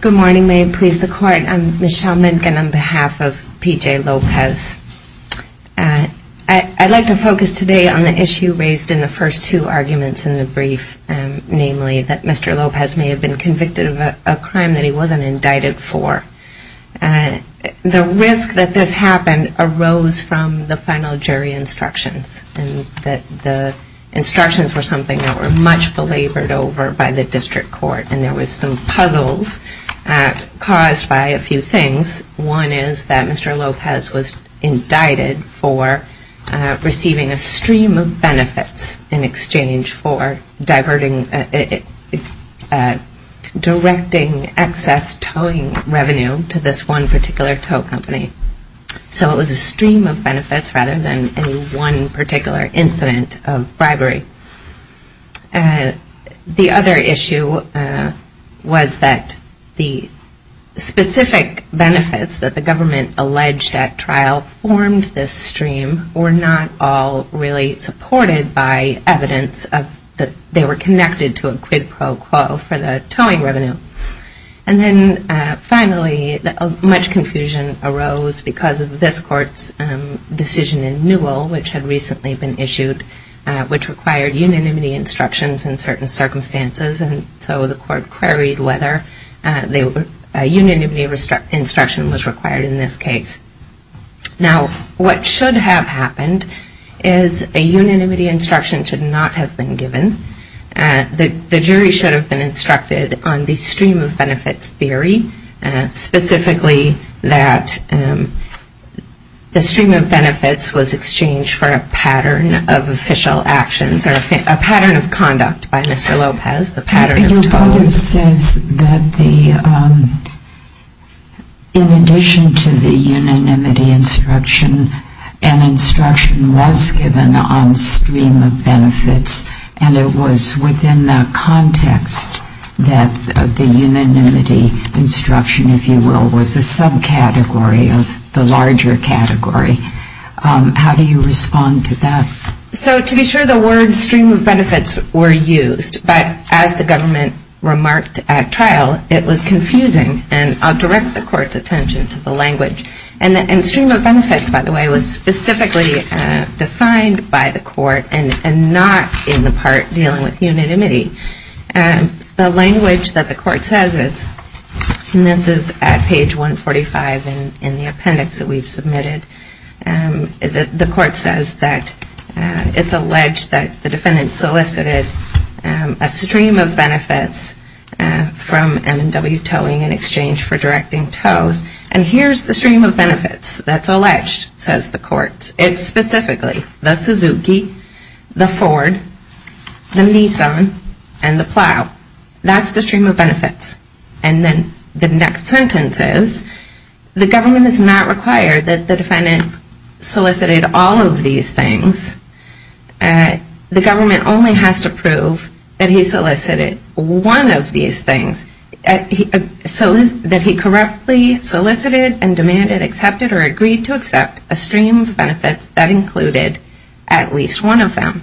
Good morning, may it please the Court, I'm Michelle Minkin on behalf of P.J. Lopez. I'd like to focus today on the issue raised in the first two arguments in the brief, namely that Mr. Lopez may have been convicted of a crime that he wasn't indicted for. The risk that this happened arose from the final jury instructions and that the instructions were something that were much belabored over by the District Court and there were some puzzles caused by a few things. One is that Mr. Lopez was indicted for receiving a stream of benefits in exchange for diverting, directing excess towing revenue to this one particular tow company. So it was a stream of benefits rather than any one particular incident of bribery. The other issue was that the specific benefits that the government alleged at trial formed this stream were not all really supported by evidence that they were connected to a quid pro quo for the towing revenue. And then finally, much confusion arose because of this Court's decision in Newell, which had recently been issued, which required unanimity instructions in certain circumstances and so the Court queried whether a unanimity instruction was required in this case. Now, what should have happened is a unanimity instruction should not have been given. The jury should have been instructed on the stream of benefits theory, specifically that the stream of benefits was exchanged for a pattern of official actions or a pattern of conduct by Mr. Lopez, the pattern of towing. Your Codice says that in addition to the unanimity instruction, an instruction was given on stream of benefits and it was within that context that the unanimity instruction, if you will, was a subcategory of the larger category. How do you respond to that? So to be sure, the word stream of benefits were used, but as the government remarked at trial, it was confusing. And I'll direct the Court's attention to the language. And the stream of benefits, by the way, was specifically defined by the Court and not in the part dealing with unanimity. The language that the Court says is, and this is at page 145 in the appendix that we've submitted, the Court says that it's alleged that the defendant solicited a stream of benefits from M&W towing in exchange for directing tows. And here's the stream of benefits that's alleged, says the Court. It's specifically the Suzuki, the Ford, the Nissan, and the Plow. That's the stream of benefits. And then the next sentence is, the government does not require that the defendant solicited all of these things. The government only has to prove that he solicited one of these things. So that he correctly solicited and demanded, accepted, or agreed to accept a stream of benefits that included at least one of them.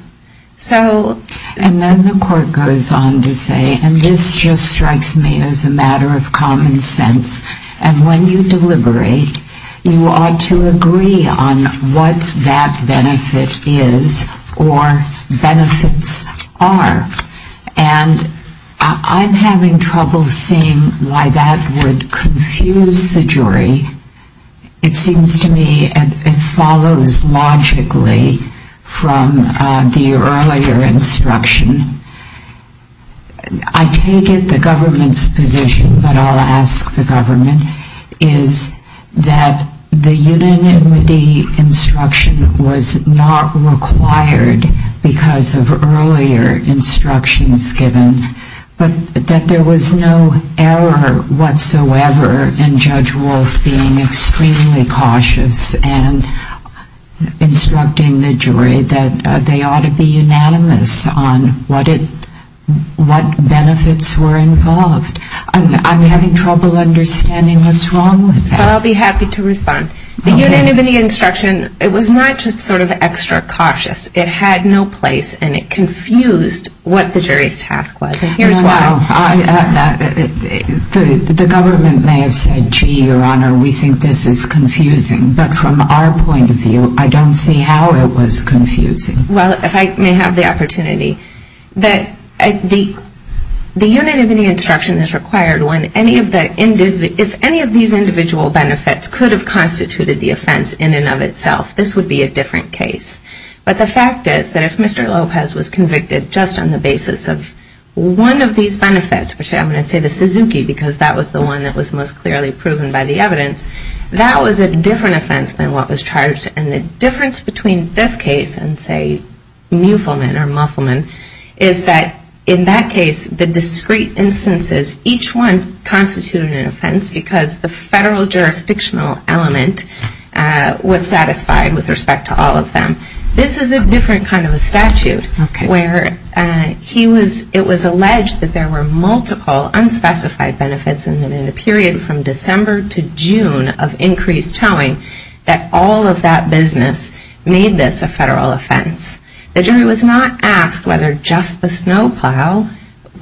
So… And then the Court goes on to say, and this just strikes me as a matter of common sense, and when you deliberate, you ought to agree on what that benefit is or benefits are. And I'm having trouble seeing why that would confuse the jury. It seems to me it follows logically from the earlier instruction. I take it the government's position, but I'll ask the government, is that the unanimity instruction was not required because of earlier instructions given. But that there was no error whatsoever in Judge Wolf being extremely cautious and instructing the jury that they ought to be unanimous on what benefits were involved. I'm having trouble understanding what's wrong with that. Well, I'll be happy to respond. The unanimity instruction, it was not just sort of extra cautious. It had no place and it confused what the jury's task was. And here's why. The government may have said, gee, Your Honor, we think this is confusing. But from our point of view, I don't see how it was confusing. Well, if I may have the opportunity, that the unanimity instruction is required when any of these individual benefits could have constituted the offense in and of itself, this would be a different case. But the fact is that if Mr. Lopez was convicted just on the basis of one of these benefits, which I'm going to say the Suzuki because that was the one that was most clearly proven by the evidence, that was a different offense than what was charged. And the difference between this case and, say, Mueffelman or Muffelman, is that in that instances, each one constituted an offense because the federal jurisdictional element was satisfied with respect to all of them. This is a different kind of a statute where it was alleged that there were multiple unspecified benefits and that in a period from December to June of increased towing, that all of that business made this a federal offense. The jury was not asked whether just the snowplow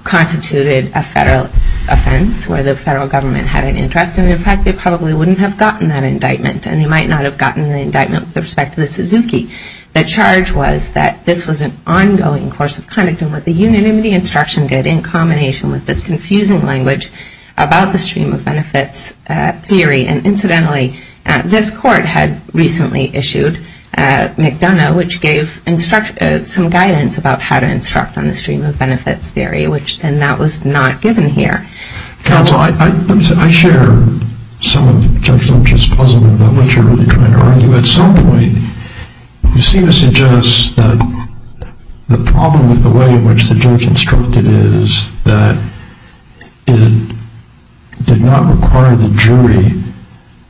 constituted a federal offense where the federal government had an interest in it. In fact, they probably wouldn't have gotten that indictment and they might not have gotten the indictment with respect to the Suzuki. The charge was that this was an ongoing course of conduct and what the unanimity instruction did in combination with this confusing language about the stream of benefits theory. And incidentally, this court had recently issued McDonough, which gave some guidance about how to instruct on the stream of benefits theory, and that was not given here. Counsel, I share some of Judge Lynch's puzzlement about what you're really trying to argue. At some point, you seem to suggest that the problem with the way in which the judge instructed is that it did not require the jury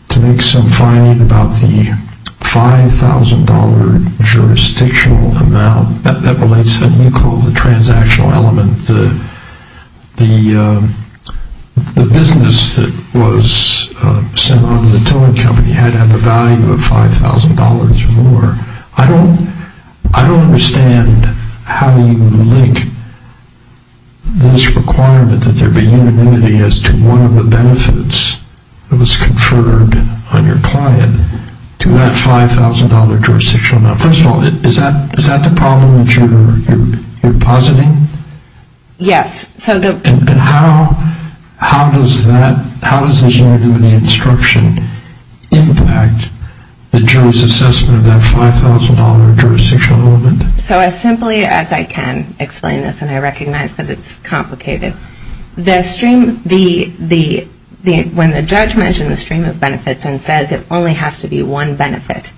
to make some finding about the $5,000 jurisdictional amount that relates to what you call the transactional element. The business that was sent on to the towing company had to have a value of $5,000 or more. I don't understand how you link this requirement that there be unanimity as to one of the benefits that was conferred on your client to that $5,000 jurisdictional amount. First of all, is that the problem that you're positing? Yes, so the And how does this unanimity instruction impact the jury's assessment of that $5,000? So as simply as I can explain this, and I recognize that it's complicated, when the judge mentioned the stream of benefits and says it only has to be one benefit,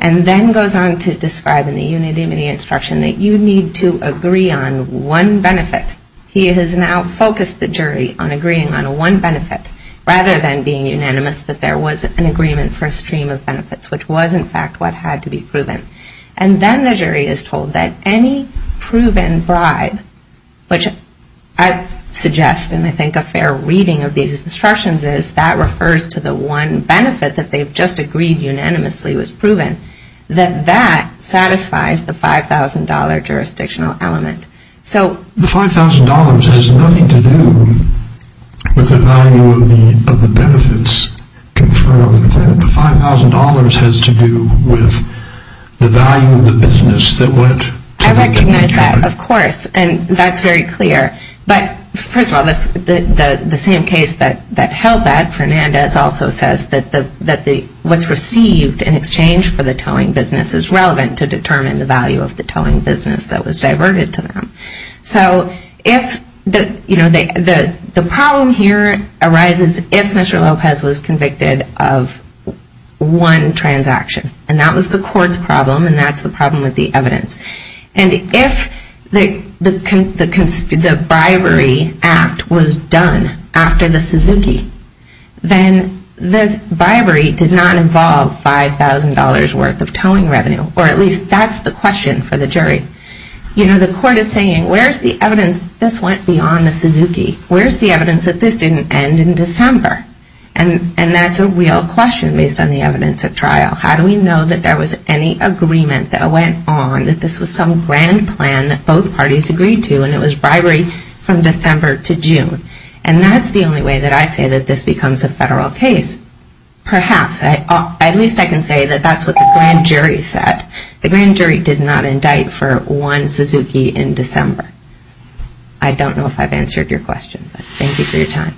and then goes on to describe in the unanimity instruction that you need to agree on one benefit, he has now focused the jury on agreeing on one benefit, rather than being unanimous that there was an agreement for a stream of benefits, which was in fact what had to be proven. And then the jury is told that any proven bribe, which I suggest, and I think a fair reading of these instructions is, that refers to the one benefit that they've just agreed unanimously was proven, that that satisfies the $5,000 jurisdictional element. The $5,000 has nothing to do with the value of the benefits conferred on the client. The $5,000 has to do with the value of the business that went to the towing company. I recognize that, of course, and that's very clear. But first of all, the same case that held that, Fernandez, also says that what's received in exchange for the towing business is relevant to determine the value of the towing business that was diverted to them. So if, you know, the problem here arises if Mr. Lopez was convicted of one transaction, and that was the court's problem, and that's the problem with the evidence. And if the bribery act was done after the Suzuki, then the bribery did not involve $5,000 worth of revenue, or at least that's the question for the jury. You know, the court is saying, where's the evidence this went beyond the Suzuki? Where's the evidence that this didn't end in December? And that's a real question based on the evidence at trial. How do we know that there was any agreement that went on, that this was some grand plan that both parties agreed to, and it was bribery from December to June? And that's the only way that I say that this becomes a federal case, perhaps. At least I can say that that's what the grand jury said. The grand jury did not indict for one Suzuki in December. I don't know if I've answered your question, but thank you for your time.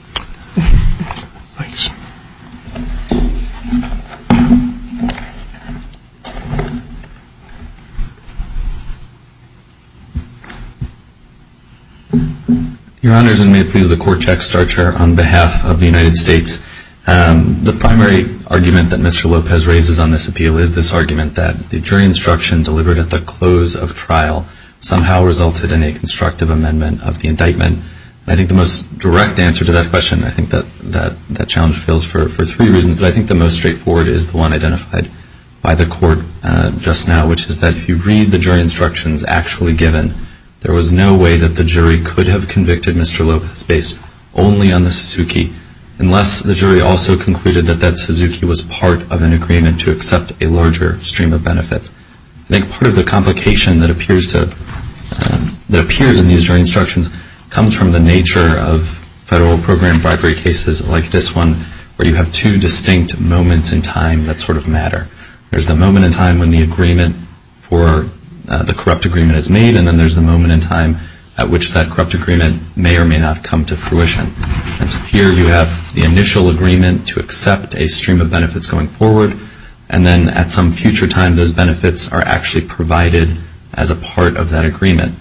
Your Honors, and may it please the court, Jack Starcher, on behalf of the United States, the primary argument that Mr. Lopez raises on this appeal is this argument that the jury instruction delivered at the close of trial somehow resulted in a constructive amendment of the indictment. And I think the most direct answer to that question, I think that challenge fails for three reasons, but I think the most straightforward is the one identified by the court just now, which is that if you read the jury instructions actually given, there was no way that the jury could have convicted Mr. Lopez based only on the Suzuki, unless the jury also concluded that that Suzuki was part of an agreement to accept a larger stream of benefits. I think part of the complication that appears in these jury instructions comes from the nature of federal program bribery cases like this one, where you have two distinct moments in time that sort of matter. There's the moment in time when the agreement for the corrupt agreement is made, and then there's the moment in time at which that corrupt agreement may or may not come to fruition. And so here you have the initial agreement to accept a stream of benefits going forward, and then at some future time those benefits are actually provided as a part of that agreement.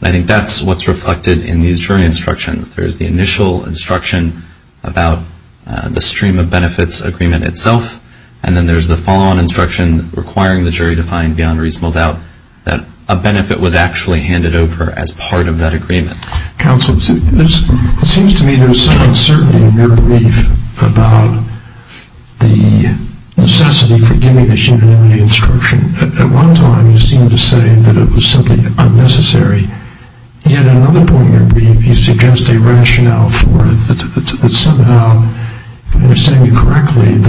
And I think that's what's reflected in these jury instructions. There's the initial instruction about the stream of benefits agreement itself, and then there's the follow-on instruction requiring the jury to find beyond reasonable doubt that a benefit was actually handed over as part of that agreement. Counsel, it seems to me there's some uncertainty in your brief about the necessity for giving this unanimity instruction. At one time, you seemed to say that it was simply unnecessary. Yet at another point in your brief, you suggest a rationale for it that somehow, if I understand it correctly, was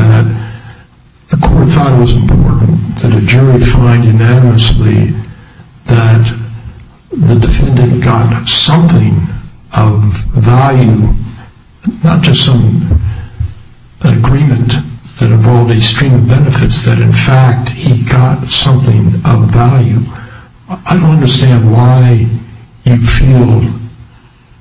that the defendant got something of value, not just some agreement that involved a stream of benefits, that in fact he got something of value. I don't understand why you feel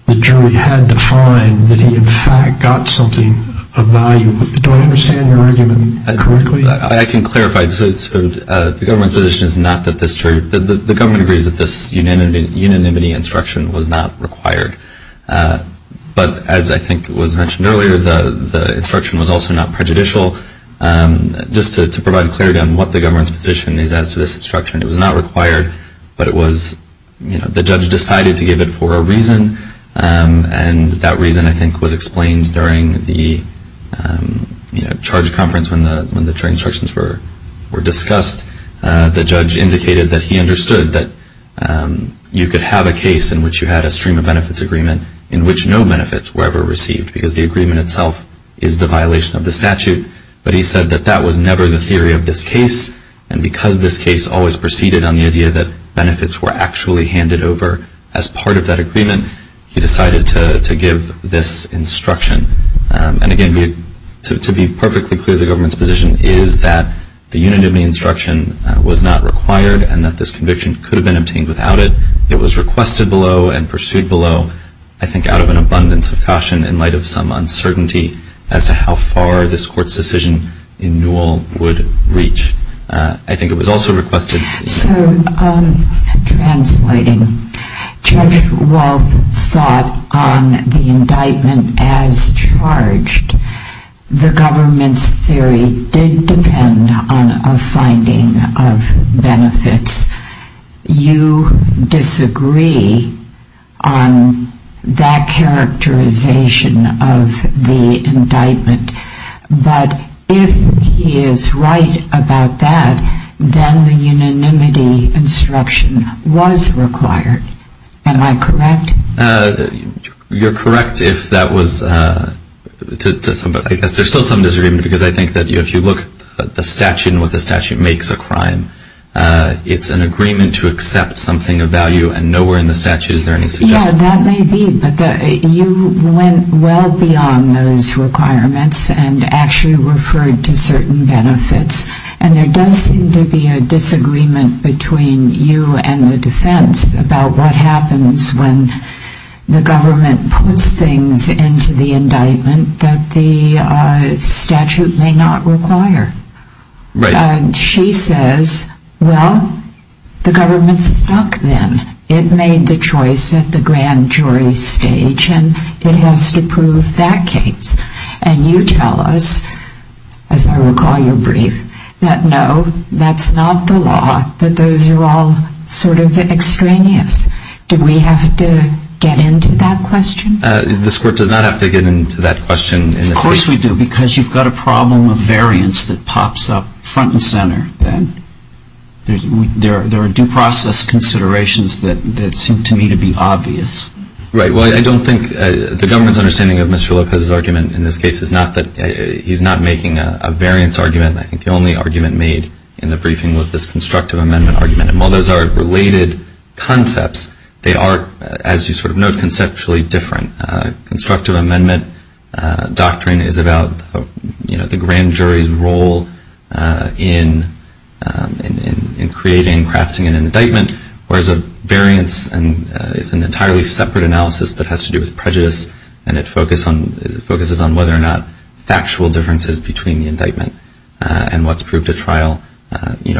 the jury had to find that he in fact got something of value. Do I understand your argument correctly? I can clarify. The government's position is not that this jury, the government agrees that this unanimity instruction was not required. But as I think was mentioned earlier, the instruction was also not prejudicial. Just to provide clarity on what the government's position is as to this instruction, it was not required, but it was, you know, the judge decided to give it for a reason, and that reason I think was explained during the charge conference when the instructions were discussed. The judge indicated that he understood that you could have a case in which you had a stream of benefits agreement in which no benefits were ever received, because the agreement itself is the violation of the statute. But he said that that was never the theory of this case, and because this case always proceeded on the idea that benefits were actually handed over as part of that agreement, he decided to give this instruction. And again, to be perfectly clear, the government's position is that the unanimity instruction was not required and that this conviction could have been obtained without it. It was requested below and pursued below, I think out of an abundance of caution in light of some uncertainty as to how far this court's decision in Newell would reach. I think it was also requested. So, translating, Judge Walp thought on the indictment as charged. The government's theory did depend on a finding of benefits. You disagree on that characterization of the indictment, but if he is right about that, then the unanimity instruction was required. Am I correct? You're correct if that was to some, but I guess there's still some disagreement, because I think that if you look at the statute and what the statute makes a crime, it's an agreement to accept something of value, and nowhere in the statute is there any suggestion of those requirements and actually referred to certain benefits. And there does seem to be a disagreement between you and the defense about what happens when the government puts things into the indictment that the statute may not require. Right. And she says, well, the government's stuck then. It made the choice at the grand jury stage, and it has to prove that case. And you tell us, as I recall your brief, that no, that's not the law, that those are all sort of extraneous. Do we have to get into that question? This court does not have to get into that question. Of course we do, because you've got a problem of variance that pops up front and center then. There are due process considerations that seem to me to be obvious. Right. Well, I don't think the government's understanding of Mr. Lopez's argument in this case is not that he's not making a variance argument. I think the only argument made in the briefing was this constructive amendment argument. And while those are related concepts, they are, as you sort of note, conceptually different. Constructive amendment doctrine is about the grand jury's role in creating, crafting an indictment, whereas a variance is an entirely separate analysis that has to do with prejudice and it focuses on whether or not factual differences between the indictment and what's proved at trial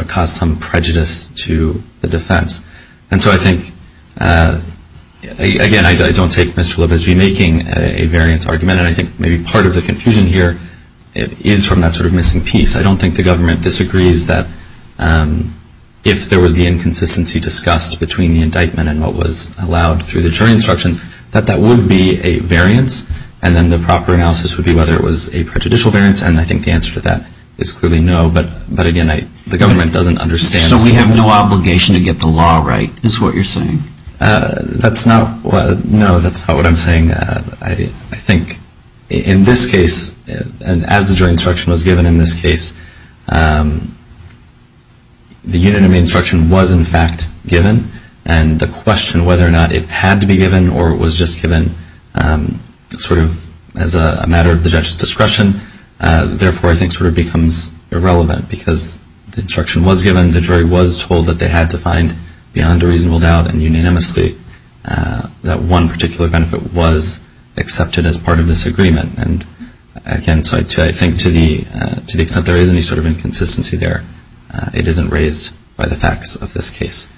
cause some prejudice to the defense. And so I think, again, I don't take Mr. Lopez's making a variance argument, and I think maybe part of the confusion here is from that sort of missing piece. I don't think the government disagrees that if there was the inconsistency discussed between the indictment and what was allowed through the jury instructions, that that would be a variance, and then the proper analysis would be whether it was a prejudicial variance, and I think the answer to that is clearly no. But, again, the government doesn't understand. So we have no obligation to get the law right, is what you're saying? That's not what, no, that's not what I'm saying. I think in this case, as the jury instruction was given in this case, the unanimity instruction was in fact given, and the question whether or not it had to be given or it was just given sort of as a matter of the judge's discretion, therefore I think sort of becomes irrelevant because the instruction was given, the jury was told that they had to find beyond a reasonable doubt and unanimously that one particular benefit was accepted as part of this agreement. And, again, so I think to the extent there is any sort of inconsistency there, it isn't raised by the facts of this case.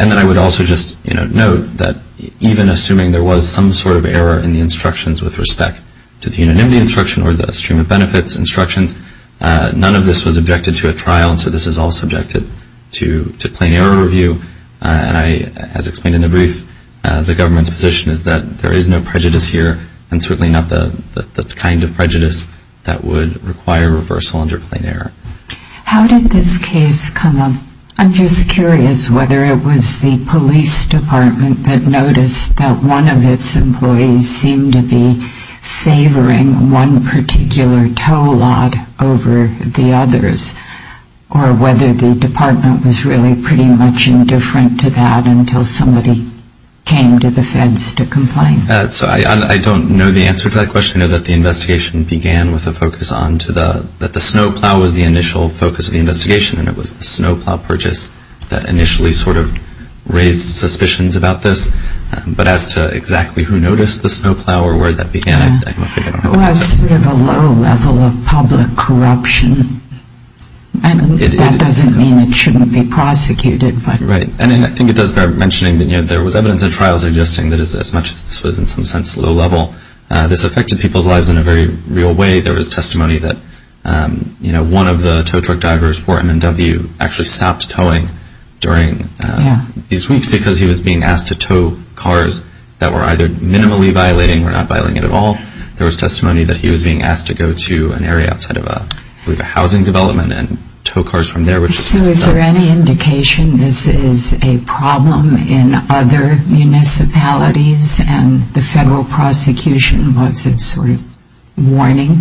And then I would also just, you know, note that even assuming there was some sort of error in the instructions with respect to the unanimity instruction or the stream of benefits instructions, none of this was objected to at trial, so this is all subjected to plain error review, and I, as explained in the brief, the government's position is that there is no prejudice here, and certainly not the kind of prejudice that would require reversal under plain error. How did this case come up? I'm just curious whether it was the police department that noticed that one of its employees seemed to be favoring one particular tow lot over the other. I don't know the answer to that question. I know that the investigation began with a focus on to the, that the snowplow was the initial focus of the investigation, and it was the snowplow purchase that initially sort of raised suspicions about this, but as to exactly who noticed the snowplow or where that began, I'm not sure. It was sort of a low level of public corruption, and that doesn't mean it shouldn't be investigated. Right, and I think it does bear mentioning that there was evidence at trial suggesting that as much as this was in some sense low level, this affected people's lives in a very real way. There was testimony that, you know, one of the tow truck drivers for M&W actually stopped towing during these weeks because he was being asked to tow cars that were either minimally violating or not violating at all. There was testimony that he was being asked to go to an area outside of, I believe, a housing development and tow cars from there. So is there any indication this is a problem in other municipalities and the federal prosecution wants a sort of warning?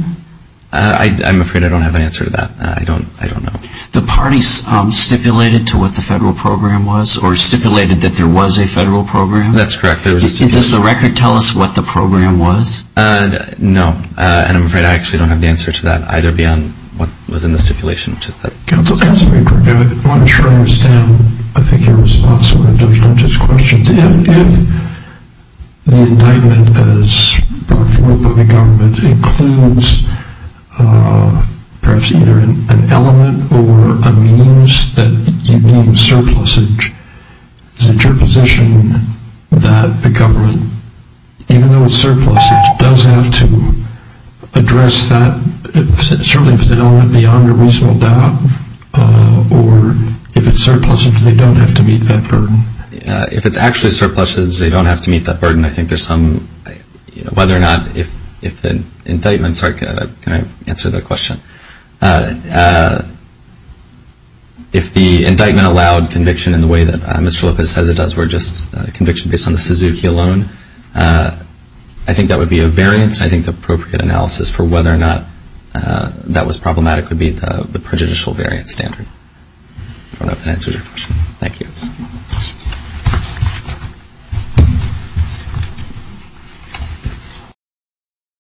I'm afraid I don't have an answer to that. I don't know. The parties stipulated to what the federal program was or stipulated that there was a federal program? That's correct. Does the record tell us what the program was? No, and I'm afraid I actually don't have the answer to that either beyond what was in the record. I'm not sure I understand, I think, your response to one of Judge Lynch's questions. If the indictment as brought forth by the government includes perhaps either an element or a means that you deem surplusage, is it your position that the government, even though it's surplusage, does have to address that, certainly if it's an element beyond a reasonable doubt, or if it's surplusage, they don't have to meet that burden? If it's actually surplusage, they don't have to meet that burden. I think there's some, whether or not if the indictment, sorry, can I answer that question? If the indictment allowed conviction in the way that Mr. Lopez says it does where just conviction based on the Suzuki alone, I think that would be a variance. I think the appropriate analysis for whether or not that was problematic would be the prejudicial variance standard. I don't know if that answers your question. Thank you.